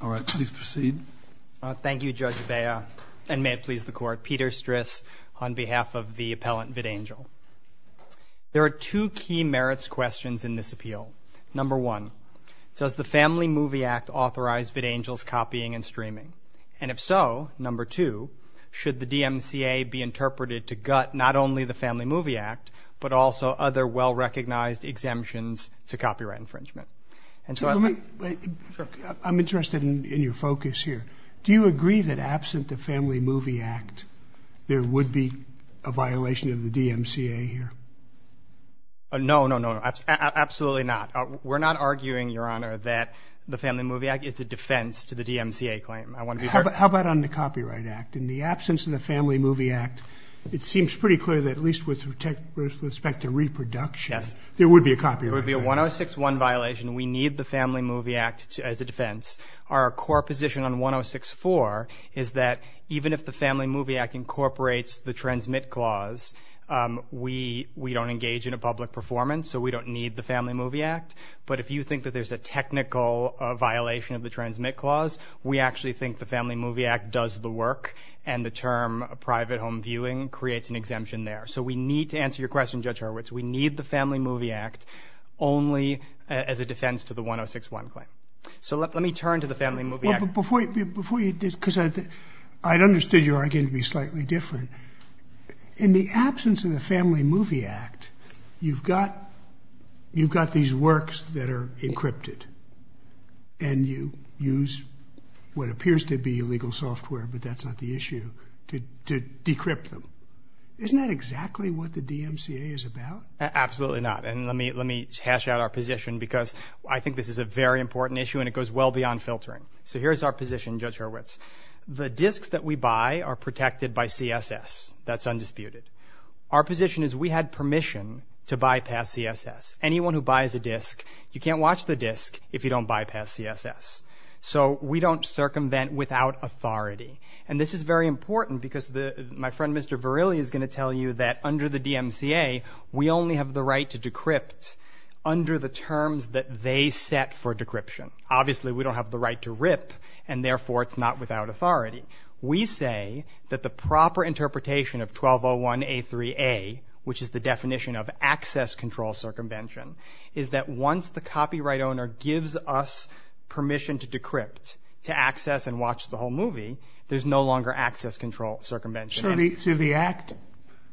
All right, please proceed. Thank you, Judge Bea, and may it please the Court. Peter Stris, on behalf of the appellant VidAngel. There are two key merits questions in this appeal. Number one, does the Family Movie Act authorize VidAngel's copying and streaming? And if so, number two, should the DMCA be interpreted to gut not only the Family Movie Act, but also other well-recognized exemptions to copyright infringement? I'm interested in your focus here. Do you agree that absent the Family Movie Act, there would be a violation of the DMCA here? No, no, no, absolutely not. We're not arguing, Your Honor, that the Family Movie Act is a defense to the DMCA claim. How about on the Copyright Act? In the absence of the Family Movie Act, it seems pretty clear that at least with respect to reproduction, there would be a copyright violation. There would be a 106-1 violation. We need the Family Movie Act as a defense. Our core position on 106-4 is that even if the Family Movie Act incorporates the transmit clause, we don't engage in a public performance, so we don't need the Family Movie Act. But if you think that there's a technical violation of the transmit clause, we actually think the Family Movie Act does the work, and the term private home viewing creates an exemption there. So we need to answer your question, Judge Hurwitz. We need the Family Movie Act only as a defense to the 106-1 claim. So let me turn to the Family Movie Act. Before you do, because I understood your argument to be slightly different. In the absence of the Family Movie Act, you've got these works that are encrypted, and you use what appears to be illegal software, but that's not the issue, to decrypt them. Isn't that exactly what the DMCA is about? Absolutely not. And let me hash out our position because I think this is a very important issue, and it goes well beyond filtering. So here's our position, Judge Hurwitz. The discs that we buy are protected by CSS. That's undisputed. Our position is we had permission to bypass CSS. Anyone who buys a disc, you can't watch the disc if you don't bypass CSS. So we don't circumvent without authority. And this is very important because my friend, Mr. Verrilli, is going to tell you that under the DMCA, we only have the right to decrypt under the terms that they set for decryption. Obviously, we don't have the right to rip, and therefore it's not without authority. We say that the proper interpretation of 1201A3A, which is the definition of access control circumvention, is that once the copyright owner gives us permission to decrypt, to access and watch the whole movie, there's no longer access control circumvention. So the Act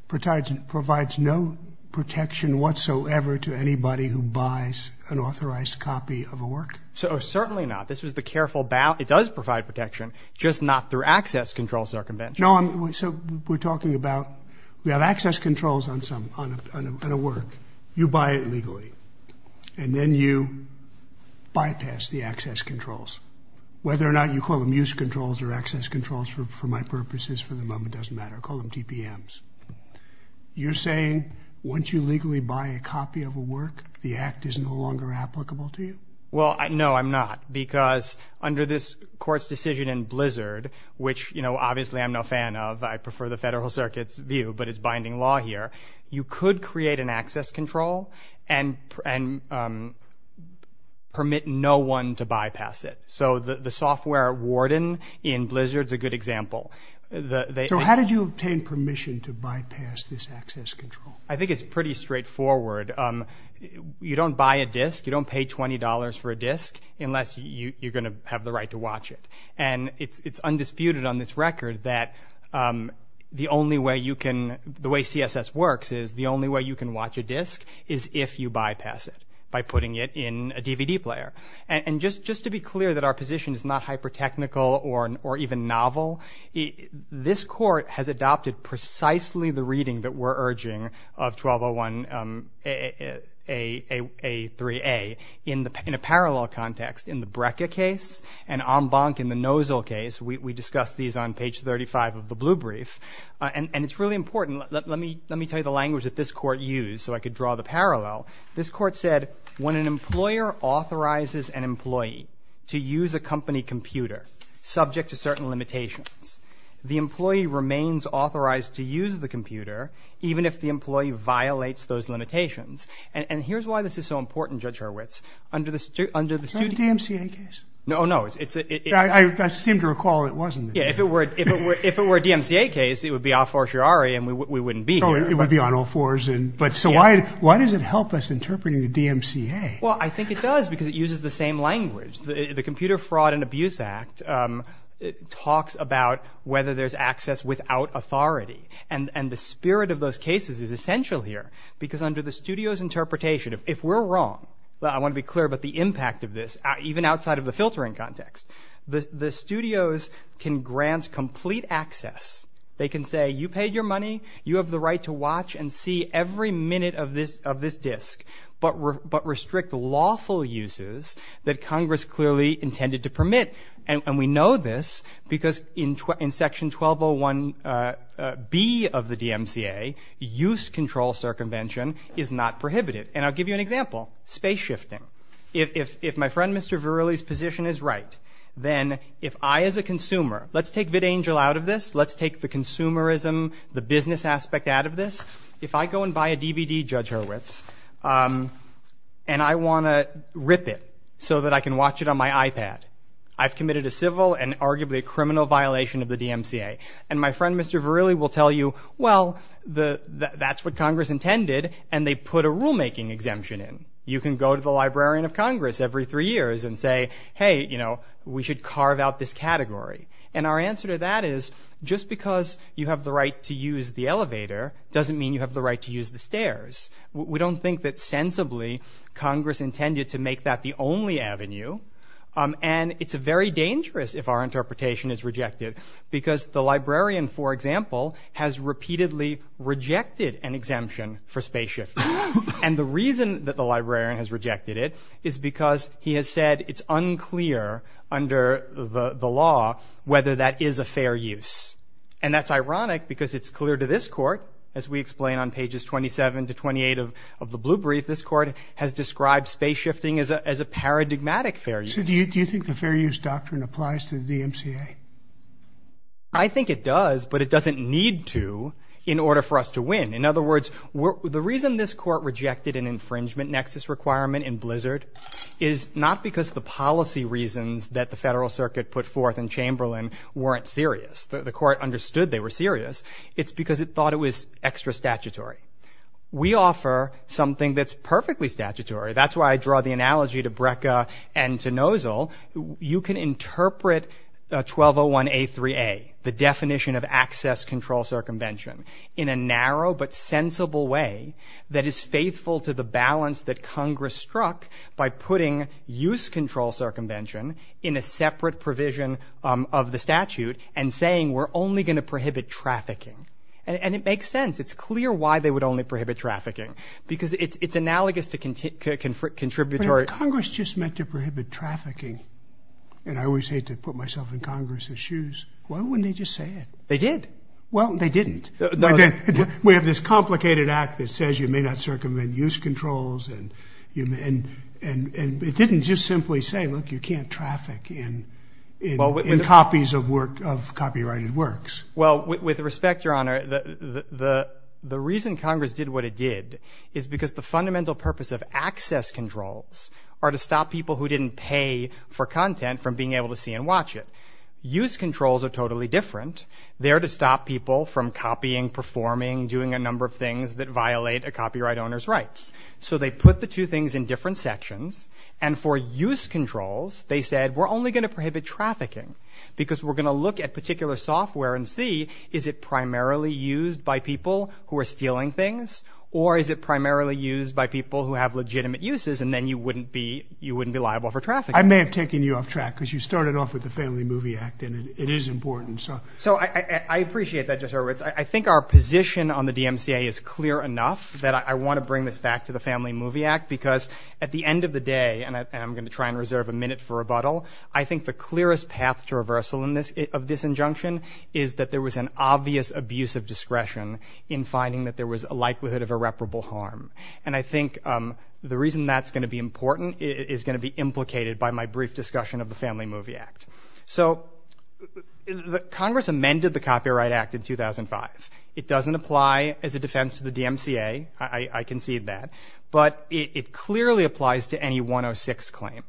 provides no protection whatsoever to anybody who buys an authorized copy of a work? Certainly not. This was the careful ballot. It does provide protection, just not through access control circumvention. No, so we're talking about we have access controls on a work. You buy it legally, and then you bypass the access controls. Whether or not you call them use controls or access controls for my purposes for the moment doesn't matter. Call them TPMs. You're saying once you legally buy a copy of a work, the Act is no longer applicable to you? Well, no, I'm not, because under this Court's decision in Blizzard, which, you know, obviously I'm no fan of. I prefer the Federal Circuit's view, but it's binding law here. You could create an access control and permit no one to bypass it. So the software warden in Blizzard is a good example. So how did you obtain permission to bypass this access control? I think it's pretty straightforward. You don't buy a disc. You don't pay $20 for a disc unless you're going to have the right to watch it. And it's undisputed on this record that the only way you can – the way CSS works is the only way you can watch a disc is if you bypass it by putting it in a DVD player. And just to be clear that our position is not hyper-technical or even novel, this Court has adopted precisely the reading that we're urging of 1201a3a in a parallel context. In the Breca case and en banc in the Nosal case, we discussed these on page 35 of the blue brief. And it's really important. Let me tell you the language that this Court used so I could draw the parallel. This Court said when an employer authorizes an employee to use a company computer, subject to certain limitations, the employee remains authorized to use the computer, even if the employee violates those limitations. And here's why this is so important, Judge Hurwitz. Is that a DMCA case? No, no. I seem to recall it wasn't. Yeah, if it were a DMCA case, it would be a fortiori and we wouldn't be here. It would be on all fours. So why does it help us interpret it in DMCA? Well, I think it does because it uses the same language. The Computer Fraud and Abuse Act talks about whether there's access without authority. And the spirit of those cases is essential here because under the studio's interpretation, if we're wrong, I want to be clear about the impact of this, even outside of the filtering context, the studios can grant complete access. They can say you paid your money, you have the right to watch and see every minute of this disk, but restrict lawful uses that Congress clearly intended to permit. And we know this because in Section 1201B of the DMCA, use control circumvention is not prohibited. And I'll give you an example, space shifting. If my friend Mr. Verrilli's position is right, then if I as a consumer, let's take vidangel out of this, let's take the consumerism, the business aspect out of this. If I go and buy a DVD, Judge Hurwitz, and I want to rip it so that I can watch it on my iPad, I've committed a civil and arguably a criminal violation of the DMCA. And my friend Mr. Verrilli will tell you, well, that's what Congress intended, and they put a rulemaking exemption in. You can go to the Librarian of Congress every three years and say, hey, you know, we should carve out this category. And our answer to that is just because you have the right to use the elevator doesn't mean you have the right to use the stairs. We don't think that sensibly Congress intended to make that the only avenue. And it's very dangerous if our interpretation is rejected because the librarian, for example, has repeatedly rejected an exemption for space shifting. And the reason that the librarian has rejected it is because he has said it's unclear under the law whether that is a fair use. And that's ironic because it's clear to this court, as we explain on pages 27 to 28 of the blue brief, this court has described space shifting as a paradigmatic fair use. So do you think the fair use doctrine applies to the DMCA? I think it does, but it doesn't need to in order for us to win. In other words, the reason this court rejected an infringement nexus requirement in Blizzard is not because the policy reasons that the Federal Circuit put forth in Chamberlain weren't serious. The court understood they were serious. It's because it thought it was extra statutory. We offer something that's perfectly statutory. That's why I draw the analogy to BRCA and to NOZL. You can interpret 1201A3A, the definition of access control circumvention, in a narrow but sensible way that is faithful to the balance that Congress struck by putting use control circumvention in a separate provision of the statute and saying we're only going to prohibit trafficking. And it makes sense. It's clear why they would only prohibit trafficking because it's analogous to contributory. But if Congress just meant to prohibit trafficking, and I always hate to put myself in Congress's shoes, why wouldn't they just say it? They did. Well, they didn't. We have this complicated act that says you may not circumvent use controls, and it didn't just simply say, look, you can't traffic in copies of copyrighted works. Well, with respect, Your Honor, the reason Congress did what it did is because the fundamental purpose of access controls are to stop people who didn't pay for content from being able to see and watch it. Use controls are totally different. They're to stop people from copying, performing, doing a number of things that violate a copyright owner's rights. So they put the two things in different sections. And for use controls, they said we're only going to prohibit trafficking because we're going to look at particular software and see, is it primarily used by people who are stealing things, or is it primarily used by people who have legitimate uses, and then you wouldn't be liable for trafficking. I may have taken you off track because you started off with the Family Movie Act, and it is important. So I appreciate that, Justice Roberts. I think our position on the DMCA is clear enough that I want to bring this back to the Family Movie Act because at the end of the day, and I'm going to try and reserve a minute for rebuttal, I think the clearest path to reversal of this injunction is that there was an obvious abuse of discretion in finding that there was a likelihood of irreparable harm. And I think the reason that's going to be important is going to be implicated by my brief discussion of the Family Movie Act. So Congress amended the Copyright Act in 2005. It doesn't apply as a defense to the DMCA. I concede that. But it clearly applies to any 106 claim.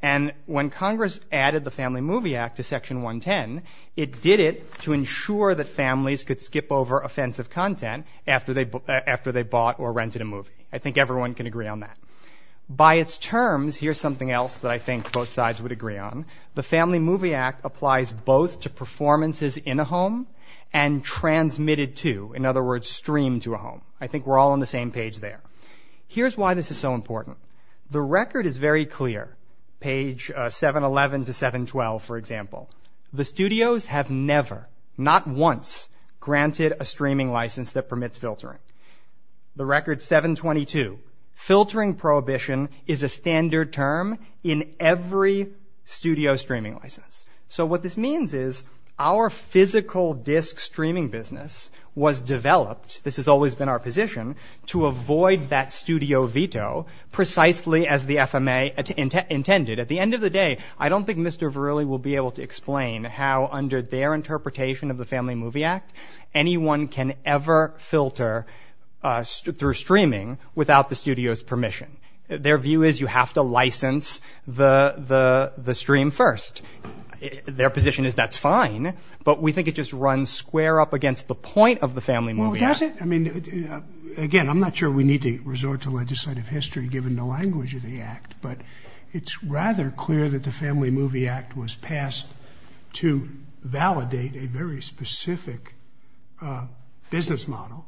And when Congress added the Family Movie Act to Section 110, it did it to ensure that families could skip over offensive content after they bought or rented a movie. I think everyone can agree on that. By its terms, here's something else that I think both sides would agree on. The Family Movie Act applies both to performances in a home and transmitted to, in other words, streamed to a home. I think we're all on the same page there. Here's why this is so important. The record is very clear, page 711 to 712, for example. The studios have never, not once, granted a streaming license that permits filtering. The record 722, filtering prohibition is a standard term in every studio streaming license. So what this means is our physical disc streaming business was developed, this has always been our position, to avoid that studio veto precisely as the FMA intended. At the end of the day, I don't think Mr. Verrilli will be able to explain how under their interpretation of the Family Movie Act, anyone can ever filter through streaming without the studio's permission. Their view is you have to license the stream first. Their position is that's fine, but we think it just runs square up against the point of the Family Movie Act. Well, that's it. I mean, again, I'm not sure we need to resort to legislative history given the language of the act, but it's rather clear that the Family Movie Act was passed to validate a very specific business model,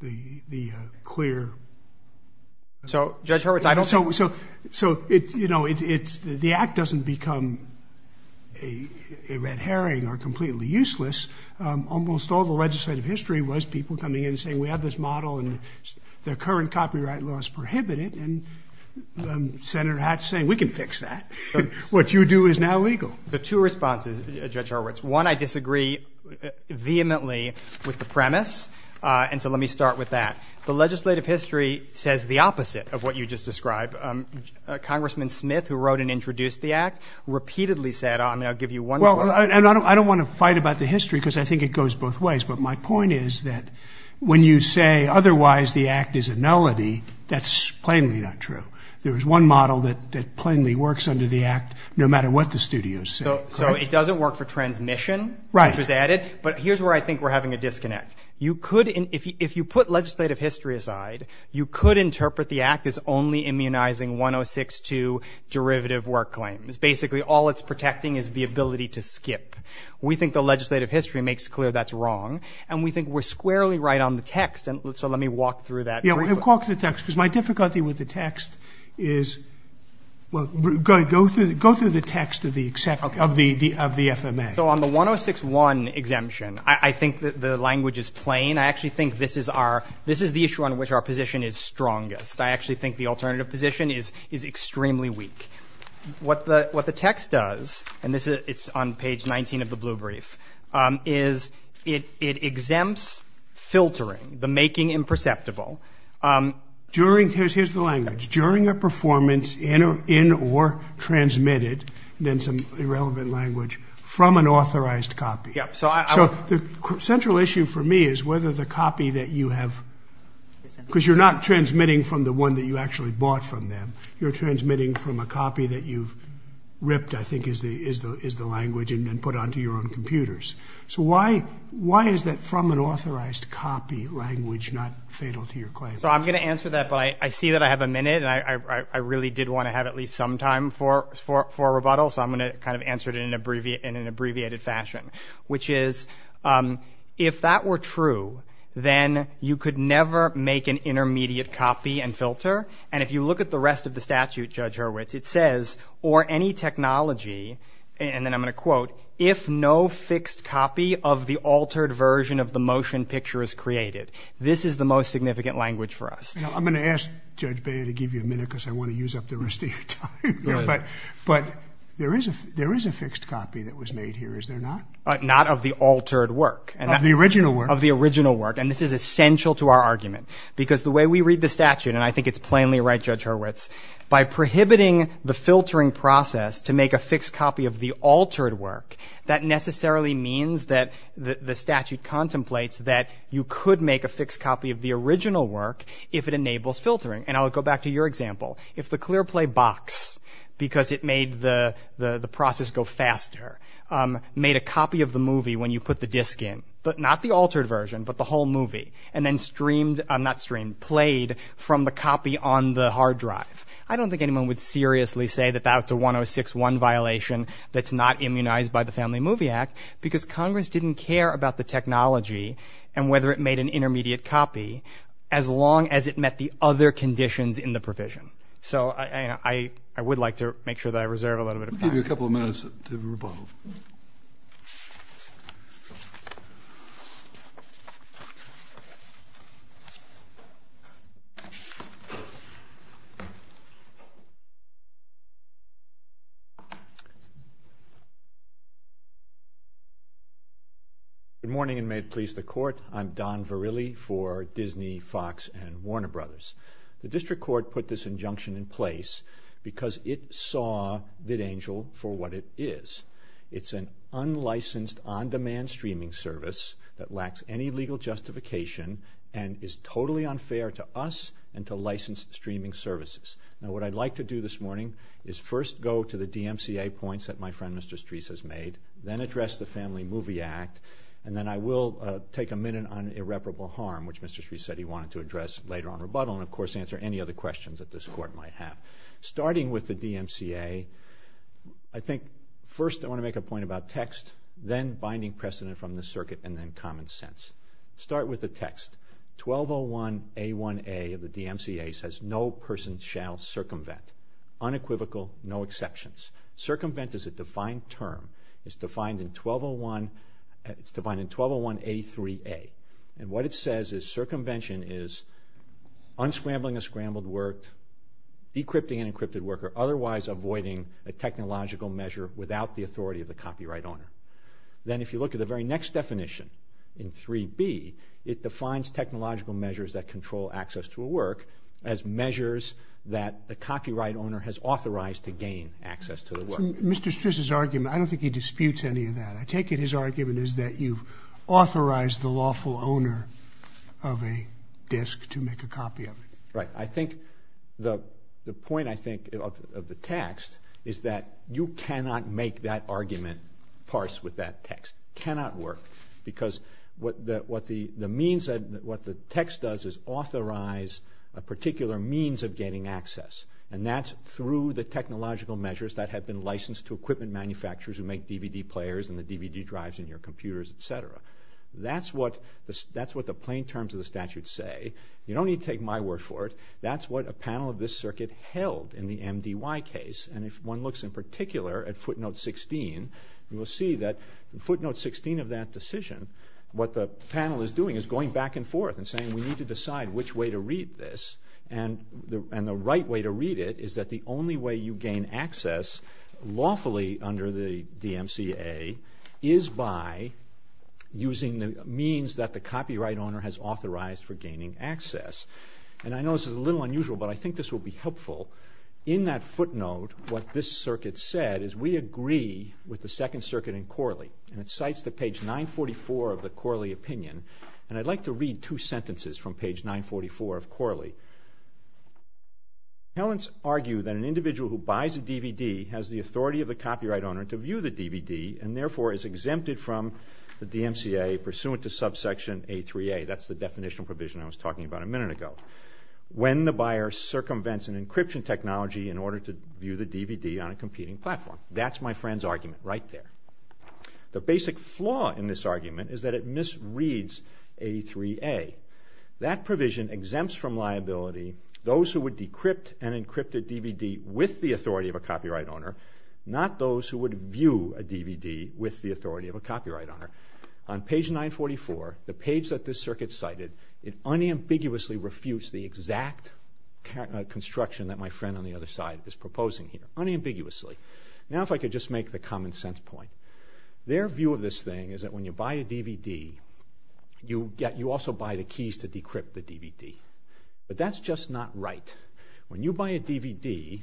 the clear. So, Judge Hurwitz, I don't think. So, you know, the act doesn't become a red herring or completely useless. Almost all the legislative history was people coming in and saying we have this model and their current copyright laws prohibit it. And Senator Hatch saying we can fix that. What you do is now legal. The two responses, Judge Hurwitz, one, I disagree vehemently with the premise. And so let me start with that. The legislative history says the opposite of what you just described. Congressman Smith, who wrote and introduced the act, repeatedly said, I'll give you one. Well, I don't want to fight about the history because I think it goes both ways. But my point is that when you say otherwise the act is a nullity, that's plainly not true. There is one model that plainly works under the act no matter what the studios say. So it doesn't work for transmission. Right. It was added. But here's where I think we're having a disconnect. You could if you put legislative history aside, you could interpret the act as only immunizing 1062 derivative work claims. Basically, all it's protecting is the ability to skip. We think the legislative history makes clear that's wrong. And we think we're squarely right on the text. So let me walk through that. Walk through the text. Because my difficulty with the text is go through the text of the FMA. So on the 1061 exemption, I think the language is plain. I actually think this is the issue on which our position is strongest. I actually think the alternative position is extremely weak. What the text does, and it's on page 19 of the blue brief, is it exempts filtering, the making imperceptible. Here's the language. During a performance in or transmitted, and then some irrelevant language, from an authorized copy. So the central issue for me is whether the copy that you have, because you're not transmitting from the one that you actually bought from them. You're transmitting from a copy that you've ripped, I think is the language, and then put onto your own computers. So why is that from an authorized copy language not fatal to your claim? So I'm going to answer that, but I see that I have a minute, and I really did want to have at least some time for rebuttal. So I'm going to kind of answer it in an abbreviated fashion. Which is, if that were true, then you could never make an intermediate copy and filter. And if you look at the rest of the statute, Judge Hurwitz, it says, or any technology, and then I'm going to quote, if no fixed copy of the altered version of the motion picture is created, this is the most significant language for us. I'm going to ask Judge Beyer to give you a minute, because I want to use up the rest of your time. But there is a fixed copy that was made here, is there not? Not of the altered work. Of the original work. Of the original work. And this is essential to our argument. Because the way we read the statute, and I think it's plainly right, Judge Hurwitz, by prohibiting the filtering process to make a fixed copy of the altered work, that necessarily means that the statute contemplates that you could make a fixed copy of the original work if it enables filtering. And I'll go back to your example. If the Clearplay box, because it made the process go faster, made a copy of the movie when you put the disc in, but not the altered version, but the whole movie, and then streamed, not streamed, played from the copy on the hard drive, I don't think anyone would seriously say that that's a 106-1 violation that's not immunized by the Family Movie Act, because Congress didn't care about the technology and whether it made an intermediate copy, as long as it met the other conditions in the provision. So I would like to make sure that I reserve a little bit of time. I'll give you a couple of minutes to rebuttal. Good morning, and may it please the Court. I'm Don Verrilli for Disney, Fox, and Warner Brothers. The District Court put this injunction in place because it saw VidAngel for what it is. It's an unlicensed, on-demand streaming service that lacks any legal justification and is totally unfair to us and to licensed streaming services. Now, what I'd like to do this morning is first go to the DMCA points that my friend Mr. Streis has made, then address the Family Movie Act, and then I will take a minute on irreparable harm, which Mr. Streis said he wanted to address later on in rebuttal, and, of course, answer any other questions that this Court might have. Starting with the DMCA, I think first I want to make a point about text, then binding precedent from the circuit, and then common sense. Start with the text. 1201A1A of the DMCA says no person shall circumvent, unequivocal, no exceptions. Circumvent is a defined term. It's defined in 1201A3A, and what it says is circumvention is unscrambling a scrambled work, decrypting an encrypted work, or otherwise avoiding a technological measure without the authority of the copyright owner. Then if you look at the very next definition in 3B, it defines technological measures that control access to a work as measures that the copyright owner has authorized to gain access to the work. Mr. Streis's argument, I don't think he disputes any of that. I take it his argument is that you've authorized the lawful owner of a disk to make a copy of it. Right. I think the point, I think, of the text is that you cannot make that argument parse with that text. It cannot work because what the text does is authorize a particular means of gaining access, and that's through the technological measures that have been licensed to equipment manufacturers who make DVD players and the DVD drives in your computers, et cetera. That's what the plain terms of the statute say. You don't need to take my word for it. That's what a panel of this circuit held in the MDY case, and if one looks in particular at footnote 16, you will see that in footnote 16 of that decision, what the panel is doing is going back and forth and saying we need to decide which way to read this, and the right way to read it is that the only way you gain access lawfully under the DMCA is by using the means that the copyright owner has authorized for gaining access. And I know this is a little unusual, but I think this will be helpful. In that footnote, what this circuit said is we agree with the Second Circuit in Corley, and it cites to page 944 of the Corley opinion, and I'd like to read two sentences from page 944 of Corley. Talents argue that an individual who buys a DVD has the authority of the copyright owner to view the DVD and therefore is exempted from the DMCA pursuant to subsection A3A. That's the definitional provision I was talking about a minute ago. When the buyer circumvents an encryption technology in order to view the DVD on a competing platform. That's my friend's argument right there. The basic flaw in this argument is that it misreads A3A. That provision exempts from liability those who would decrypt an encrypted DVD with the authority of a copyright owner, not those who would view a DVD with the authority of a copyright owner. On page 944, the page that this circuit cited, it unambiguously refutes the exact construction that my friend on the other side is proposing here. Unambiguously. Now if I could just make the common sense point. Their view of this thing is that when you buy a DVD, you also buy the keys to decrypt the DVD. But that's just not right. When you buy a DVD,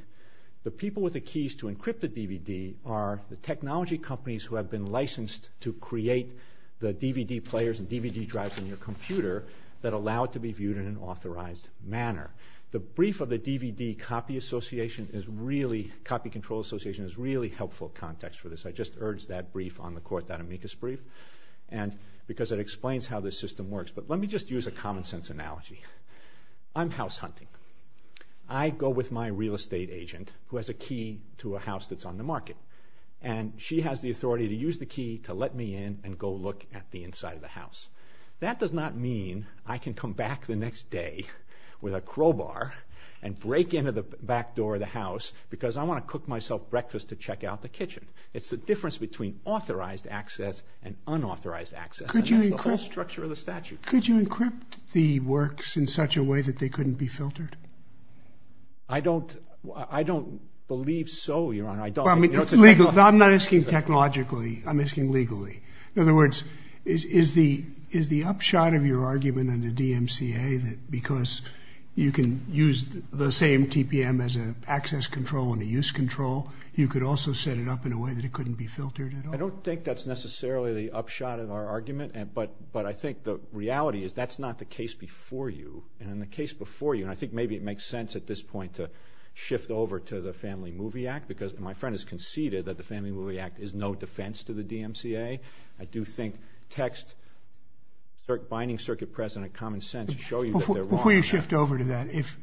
the people with the keys to encrypt the DVD are the technology companies who have been licensed to create the DVD players and DVD drives in your computer that allow it to be viewed in an authorized manner. The brief of the DVD Copy Control Association is a really helpful context for this. I just urged that brief on the court, that amicus brief, because it explains how this system works. But let me just use a common sense analogy. I'm house hunting. I go with my real estate agent who has a key to a house that's on the market. And she has the authority to use the key to let me in and go look at the inside of the house. That does not mean I can come back the next day with a crowbar and break into the back door of the house because I want to cook myself breakfast to check out the kitchen. It's the difference between authorized access and unauthorized access. And that's the whole structure of the statute. Could you encrypt the works in such a way that they couldn't be filtered? I don't believe so, Your Honor. I'm not asking technologically. I'm asking legally. In other words, is the upshot of your argument in the DMCA that because you can use the same TPM as an access control and a use control, you could also set it up in a way that it couldn't be filtered at all? I don't think that's necessarily the upshot of our argument. But I think the reality is that's not the case before you. And in the case before you, and I think maybe it makes sense at this point to shift over to the Family Movie Act because my friend has conceded that the Family Movie Act is no defense to the DMCA. I do think text binding circuit press and a common sense show you that they're wrong. Before you shift over to that, if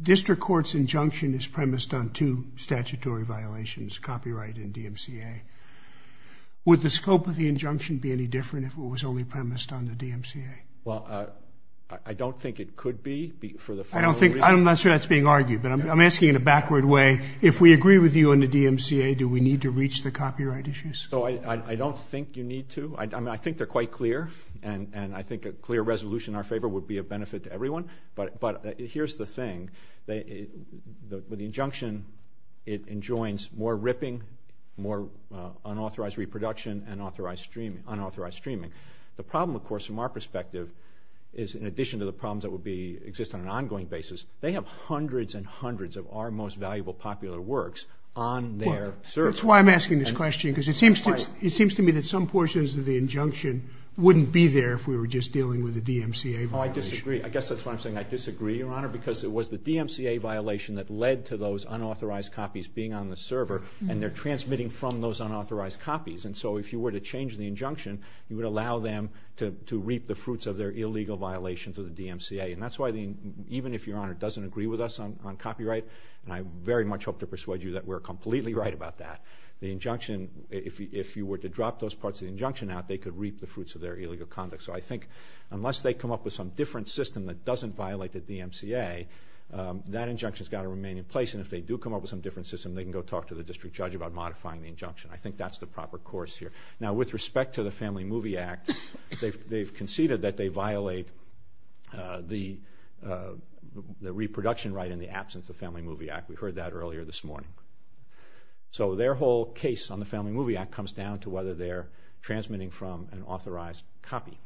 district court's injunction is premised on two statutory violations, copyright and DMCA, would the scope of the injunction be any different if it was only premised on the DMCA? Well, I don't think it could be. I'm not sure that's being argued, but I'm asking in a backward way. If we agree with you on the DMCA, do we need to reach the copyright issues? I don't think you need to. I think they're quite clear, and I think a clear resolution in our favor would be of benefit to everyone. But here's the thing. With the injunction, it enjoins more ripping, more unauthorized reproduction, and unauthorized streaming. The problem, of course, from our perspective, is in addition to the problems that exist on an ongoing basis, they have hundreds and hundreds of our most valuable popular works on their server. That's why I'm asking this question, because it seems to me that some portions of the injunction wouldn't be there if we were just dealing with the DMCA violation. Oh, I disagree. I guess that's why I'm saying I disagree, Your Honor, because it was the DMCA violation that led to those unauthorized copies being on the server, and they're transmitting from those unauthorized copies. And so if you were to change the injunction, you would allow them to reap the fruits of their illegal violations of the DMCA. And that's why even if Your Honor doesn't agree with us on copyright, and I very much hope to persuade you that we're completely right about that, the injunction, if you were to drop those parts of the injunction out, they could reap the fruits of their illegal conduct. So I think unless they come up with some different system that doesn't violate the DMCA, that injunction's got to remain in place, and if they do come up with some different system, they can go talk to the district judge about modifying the injunction. I think that's the proper course here. Now, with respect to the Family Movie Act, they've conceded that they violate the reproduction right in the absence of the Family Movie Act. We heard that earlier this morning. So their whole case on the Family Movie Act comes down to whether they're transmitting from an authorized copy.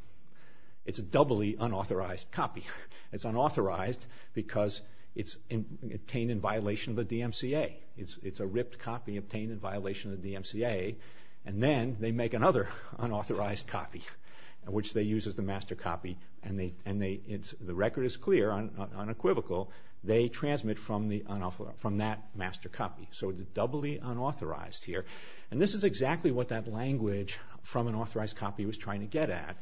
It's a doubly unauthorized copy. It's unauthorized because it's obtained in violation of the DMCA. It's a ripped copy obtained in violation of the DMCA, and then they make another unauthorized copy, which they use as the master copy, and the record is clear, unequivocal. They transmit from that master copy. So it's doubly unauthorized here, and this is exactly what that language from an authorized copy was trying to get at.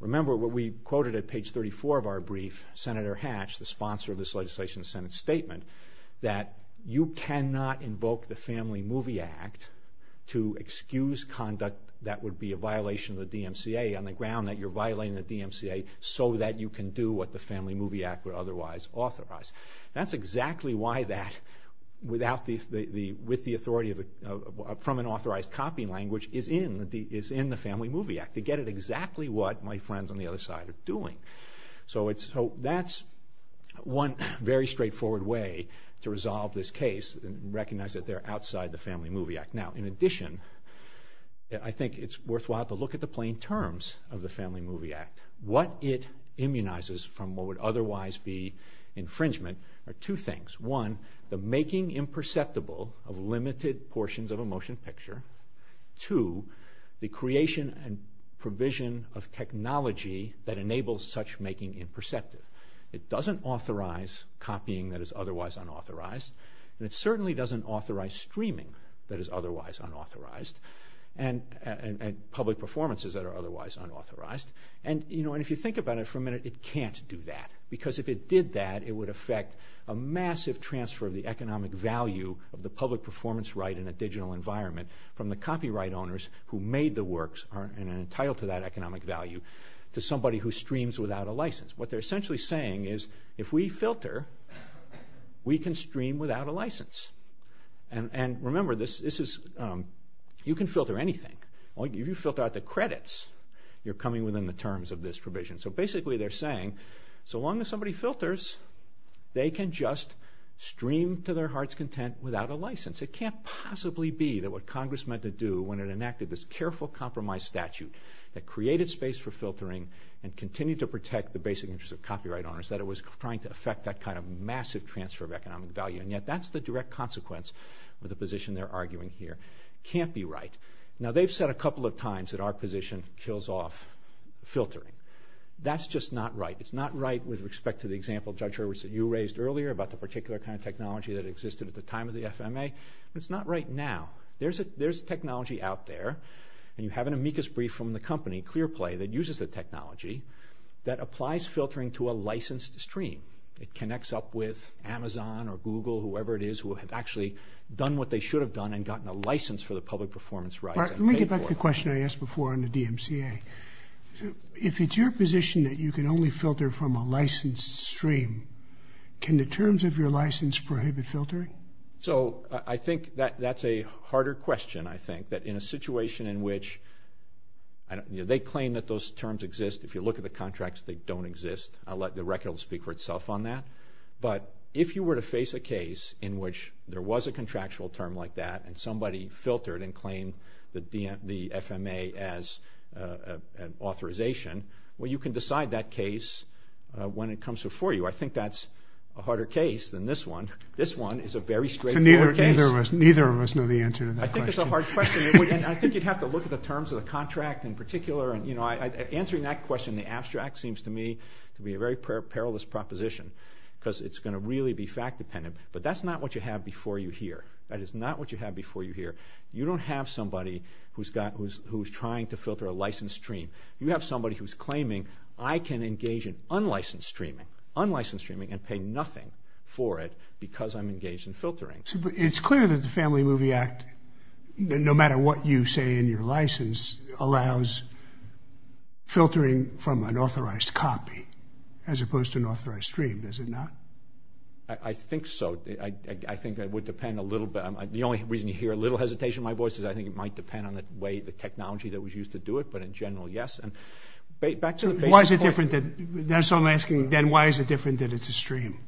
Remember what we quoted at page 34 of our brief, Senator Hatch, the sponsor of this legislation, that you cannot invoke the Family Movie Act to excuse conduct that would be a violation of the DMCA on the ground that you're violating the DMCA so that you can do what the Family Movie Act would otherwise authorize. That's exactly why that, with the authority from an authorized copy language, is in the Family Movie Act. They get at exactly what my friends on the other side are doing. So that's one very straightforward way to resolve this case and recognize that they're outside the Family Movie Act. Now, in addition, I think it's worthwhile to look at the plain terms of the Family Movie Act. What it immunizes from what would otherwise be infringement are two things. One, the making imperceptible of limited portions of a motion picture. Two, the creation and provision of technology that enables such making imperceptible. It doesn't authorize copying that is otherwise unauthorized, and it certainly doesn't authorize streaming that is otherwise unauthorized and public performances that are otherwise unauthorized. And if you think about it for a minute, it can't do that, because if it did that, it would affect a massive transfer of the economic value of the public performance right in a digital environment from the copyright owners who made the works and are entitled to that economic value to somebody who streams without a license. What they're essentially saying is, if we filter, we can stream without a license. And remember, you can filter anything. If you filter out the credits, you're coming within the terms of this provision. So basically they're saying, so long as somebody filters, they can just stream to their heart's content without a license. It can't possibly be that what Congress meant to do when it enacted this careful compromise statute that created space for filtering and continued to protect the basic interests of copyright owners, that it was trying to affect that kind of massive transfer of economic value. And yet that's the direct consequence of the position they're arguing here. It can't be right. Now they've said a couple of times that our position kills off filtering. That's just not right. It's not right with respect to the example, Judge Hurwitz, that you raised earlier about the particular kind of technology that existed at the time of the FMA. It's not right now. There's technology out there, and you have an amicus brief from the company, Clearplay, that uses the technology that applies filtering to a licensed stream. It connects up with Amazon or Google, whoever it is, who have actually done what they should have done and gotten a license for the public performance rights. Let me get back to the question I asked before on the DMCA. If it's your position that you can only filter from a licensed stream, can the terms of your license prohibit filtering? So I think that's a harder question, I think, that in a situation in which they claim that those terms exist. If you look at the contracts, they don't exist. The record will speak for itself on that. But if you were to face a case in which there was a contractual term like that and somebody filtered and claimed the FMA as an authorization, well, you can decide that case when it comes before you. I think that's a harder case than this one. This one is a very straightforward case. So neither of us know the answer to that question. I think it's a hard question. I think you'd have to look at the terms of the contract in particular. Answering that question in the abstract seems to me to be a very perilous proposition because it's going to really be fact-dependent. But that's not what you have before you hear. That is not what you have before you hear. You don't have somebody who's trying to filter a licensed stream. You have somebody who's claiming, I can engage in unlicensed streaming, unlicensed streaming and pay nothing for it because I'm engaged in filtering. It's clear that the Family Movie Act, no matter what you say in your license, allows filtering from an authorized copy as opposed to an authorized stream, does it not? I think so. I think it would depend a little bit. The only reason you hear a little hesitation in my voice is I think it might depend on the technology that was used to do it. But in general, yes. And back to the basic point. So I'm asking then why is it different than it's a stream?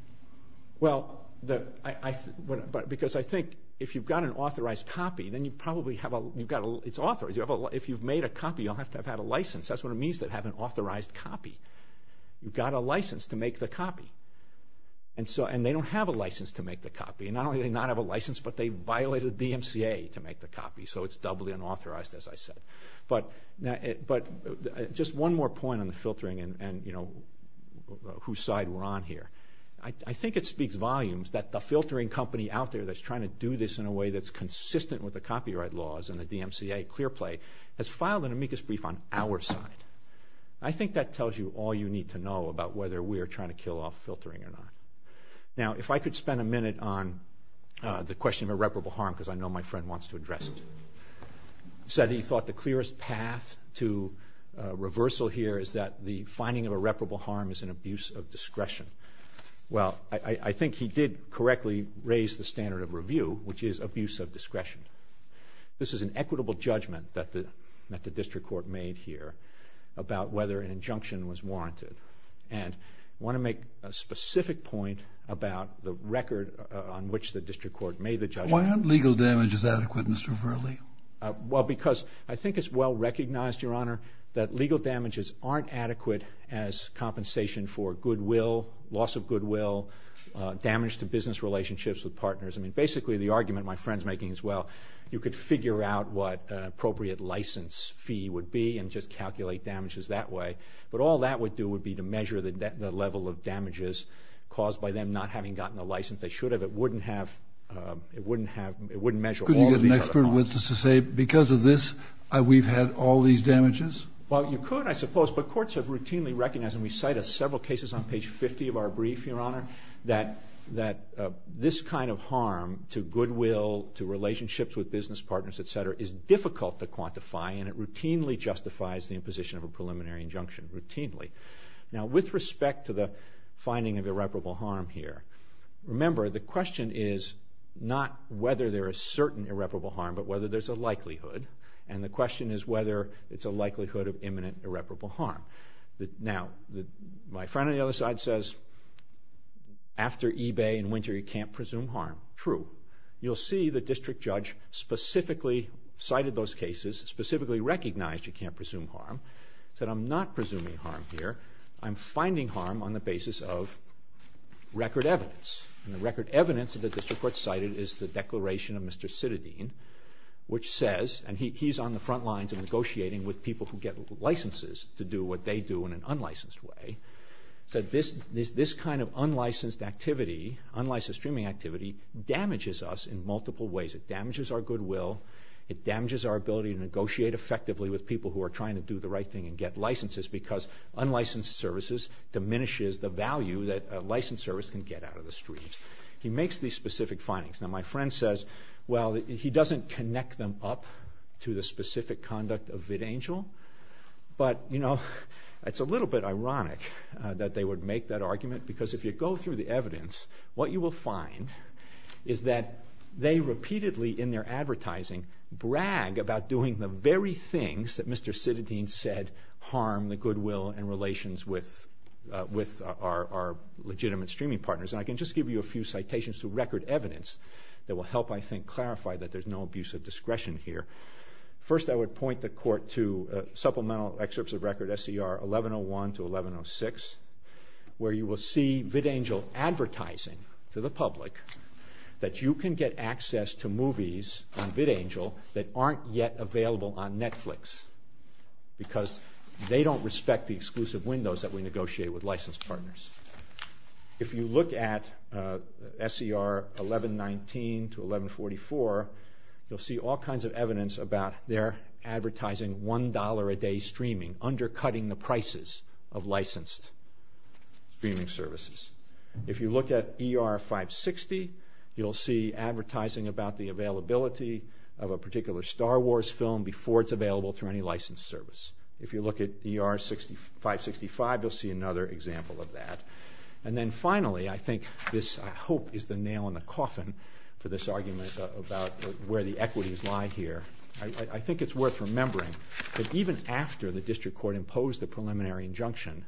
Well, because I think if you've got an authorized copy, then you probably have a – it's authorized. If you've made a copy, you'll have to have had a license. That's what it means to have an authorized copy. You've got a license to make the copy. And they don't have a license to make the copy. Not only do they not have a license, but they violated the DMCA to make the copy, so it's doubly unauthorized, as I said. But just one more point on the filtering and whose side we're on here. I think it speaks volumes that the filtering company out there that's trying to do this in a way that's consistent with the copyright laws and the DMCA clear play has filed an amicus brief on our side. I think that tells you all you need to know about whether we're trying to kill off filtering or not. Now, if I could spend a minute on the question of irreparable harm, because I know my friend wants to address it. He said he thought the clearest path to reversal here is that the finding of irreparable harm is an abuse of discretion. Well, I think he did correctly raise the standard of review, which is abuse of discretion. This is an equitable judgment that the district court made here about whether an injunction was warranted. And I want to make a specific point about the record on which the district court made the judgment. Why aren't legal damages adequate and severely? Well, because I think it's well recognized, Your Honor, that legal damages aren't adequate as compensation for goodwill, loss of goodwill, damage to business relationships with partners. I mean, basically the argument my friend's making as well, you could figure out what an appropriate license fee would be and just calculate damages that way. But all that would do would be to measure the level of damages caused by them not having gotten the license they should have. It wouldn't measure all of these other harms. Couldn't you get an expert witness to say, because of this, we've had all these damages? Well, you could, I suppose, but courts have routinely recognized, and we cite several cases on page 50 of our brief, Your Honor, that this kind of harm to goodwill, to relationships with business partners, et cetera, is difficult to quantify, and it routinely justifies the imposition of a preliminary injunction, routinely. Now, with respect to the finding of irreparable harm here, remember the question is not whether there is certain irreparable harm, but whether there's a likelihood. And the question is whether it's a likelihood of imminent irreparable harm. Now, my friend on the other side says, after eBay in winter, you can't presume harm. True. You'll see the district judge specifically cited those cases, specifically recognized you can't presume harm, said, I'm not presuming harm here. I'm finding harm on the basis of record evidence. And the record evidence that the district court cited is the declaration of Mr. Citadine, which says, and he's on the front lines of negotiating with people who get licenses to do what they do in an unlicensed way, said this kind of unlicensed activity, unlicensed streaming activity, damages us in multiple ways. It damages our goodwill. It damages our ability to negotiate effectively with people who are trying to do the right thing and get licenses because unlicensed services diminishes the value that a licensed service can get out of the streams. He makes these specific findings. Now, my friend says, well, he doesn't connect them up to the specific conduct of vidangel, but, you know, it's a little bit ironic that they would make that argument because if you go through the evidence, what you will find is that they repeatedly in their advertising brag about doing the very things that Mr. Citadine said harm the goodwill and relations with our legitimate streaming partners. And I can just give you a few citations to record evidence that will help, I think, clarify that there's no abuse of discretion here. First, I would point the court to supplemental excerpts of record SCR 1101 to 1106 where you will see vidangel advertising to the public that you can get access to movies on vidangel that aren't yet available on Netflix because they don't respect the exclusive windows that we negotiate with licensed partners. If you look at SCR 1119 to 1144, you'll see all kinds of evidence about their advertising $1 a day streaming, undercutting the prices of licensed streaming services. If you look at ER 560, you'll see advertising about the availability of a particular Star Wars film before it's available through any licensed service. If you look at ER 565, you'll see another example of that. And then finally, I think this, I hope, is the nail in the coffin for this argument about where the equities lie here. I think it's worth remembering that even after the district court imposed the preliminary injunction,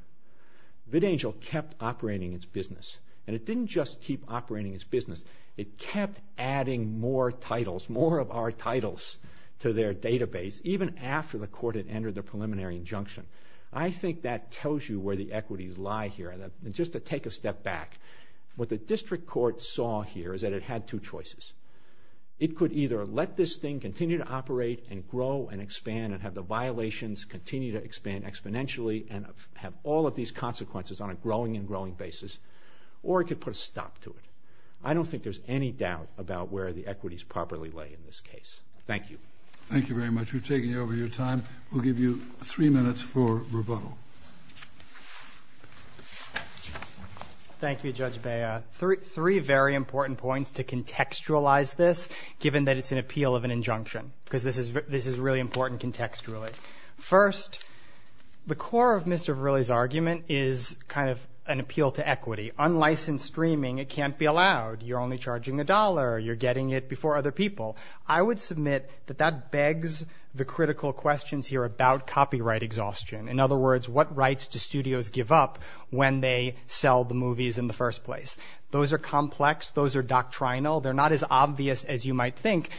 vidangel kept operating its business. And it didn't just keep operating its business. It kept adding more titles, more of our titles, to their database even after the court had entered the preliminary injunction. I think that tells you where the equities lie here. And just to take a step back, what the district court saw here is that it had two choices. It could either let this thing continue to operate and grow and expand and have the violations continue to expand exponentially and have all of these consequences on a growing and growing basis, or it could put a stop to it. I don't think there's any doubt about where the equities properly lay in this case. Thank you. Thank you very much. We've taken over your time. We'll give you three minutes for rebuttal. Thank you, Judge Bea. Three very important points to contextualize this given that it's an appeal of an injunction because this is really important contextually. First, the core of Mr. Verrilli's argument is kind of an appeal to equity. Unlicensed streaming, it can't be allowed. You're only charging a dollar. You're getting it before other people. I would submit that that begs the critical questions here about copyright exhaustion. In other words, what rights do studios give up when they sell the movies in the first place? Those are complex. Those are doctrinal. They're not as obvious as you might think.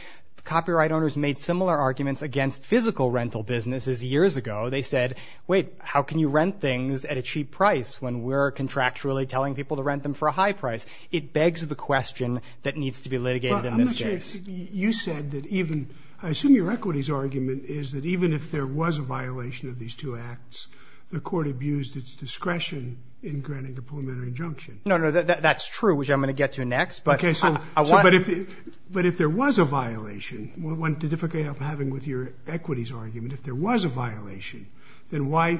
Copyright owners made similar arguments against physical rental businesses years ago. They said, wait, how can you rent things at a cheap price when we're contractually telling people to rent them for a high price? It begs the question that needs to be litigated in this case. You said that even, I assume your equities argument is that even if there was a violation of these two acts, the court abused its discretion in granting a preliminary injunction. No, no, that's true, which I'm going to get to next. But if there was a violation, what difficulty I'm having with your equities argument, if there was a violation, then why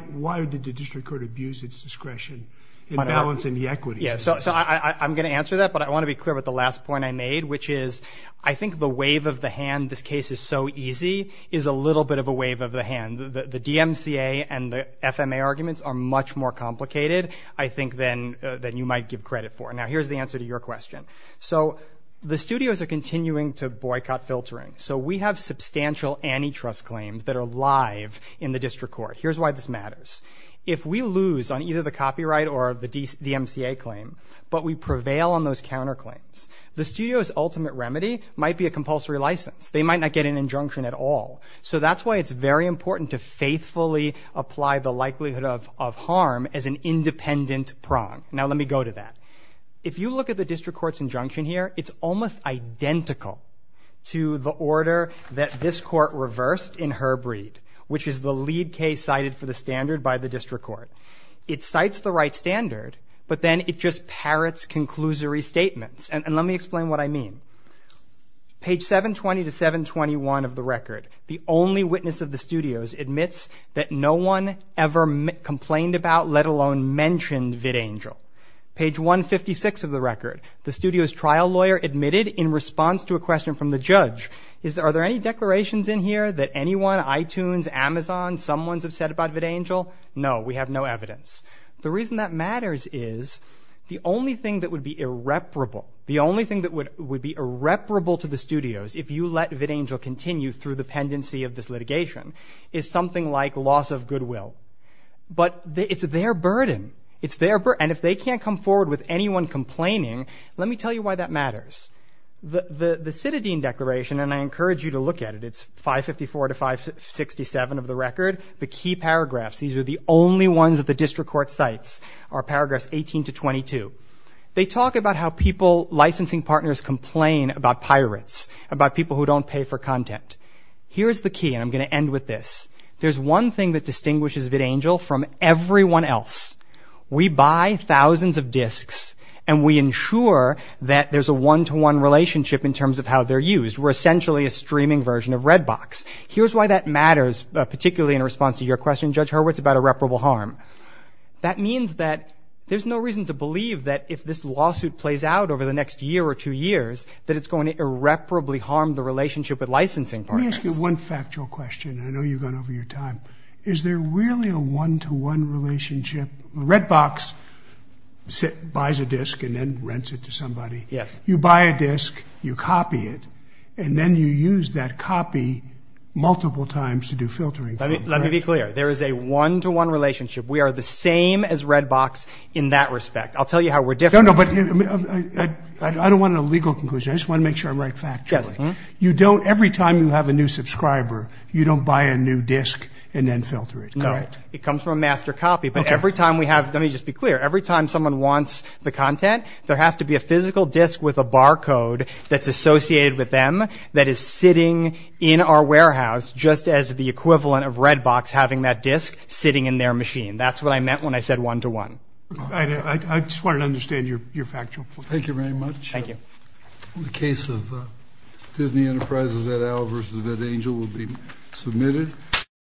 did the district court abuse its discretion in balancing the equities? So I'm going to answer that, but I want to be clear about the last point I made, which is I think the wave of the hand this case is so easy is a little bit of a wave of the hand. The DMCA and the FMA arguments are much more complicated, I think, than you might give credit for. Now, here's the answer to your question. So the studios are continuing to boycott filtering. So we have substantial antitrust claims that are live in the district court. Here's why this matters. If we lose on either the copyright or the DMCA claim, but we prevail on those counterclaims, the studio's ultimate remedy might be a compulsory license. They might not get an injunction at all. So that's why it's very important to faithfully apply the likelihood of harm as an independent prong. Now, let me go to that. If you look at the district court's injunction here, it's almost identical to the order that this court reversed in Herb Reed, which is the lead case cited for the standard by the district court. It cites the right standard, but then it just parrots conclusory statements. And let me explain what I mean. Page 720 to 721 of the record, the only witness of the studios admits that no one ever complained about, let alone mentioned VidAngel. Page 156 of the record, the studio's trial lawyer admitted in response to a question from the judge, are there any declarations in here that anyone, iTunes, Amazon, someone's upset about VidAngel? No, we have no evidence. The reason that matters is the only thing that would be irreparable, the only thing that would be irreparable to the studios if you let VidAngel continue through the pendency of this litigation, is something like loss of goodwill. But it's their burden. It's their burden. And if they can't come forward with anyone complaining, let me tell you why that matters. The citadine declaration, and I encourage you to look at it, it's 554 to 567 of the record. The key paragraphs, these are the only ones that the district court cites, are paragraphs 18 to 22. They talk about how licensing partners complain about pirates, about people who don't pay for content. Here's the key, and I'm going to end with this. There's one thing that distinguishes VidAngel from everyone else. We buy thousands of discs, and we ensure that there's a one-to-one relationship in terms of how they're used. We're essentially a streaming version of Redbox. Here's why that matters, particularly in response to your question, Judge Hurwitz, about irreparable harm. That means that there's no reason to believe that if this lawsuit plays out over the next year or two years, that it's going to irreparably harm the relationship with licensing partners. Let me ask you one factual question. I know you've gone over your time. Is there really a one-to-one relationship? Redbox buys a disc and then rents it to somebody. Yes. You buy a disc, you copy it, and then you use that copy multiple times to do filtering. Let me be clear. There is a one-to-one relationship. We are the same as Redbox in that respect. I'll tell you how we're different. No, no, but I don't want a legal conclusion. I just want to make sure I'm right factually. Yes. You don't, every time you have a new subscriber, you don't buy a new disc and then filter it, correct? No. It comes from a master copy, but every time we have, let me just be clear, every time someone wants the content, there has to be a physical disc with a barcode that's associated with them that is sitting in our warehouse just as the equivalent of Redbox having that disc sitting in their machine. That's what I meant when I said one-to-one. I just wanted to understand your factual point. Thank you very much. Thank you. The case of Disney Enterprises et al. versus Vet Angel will be submitted.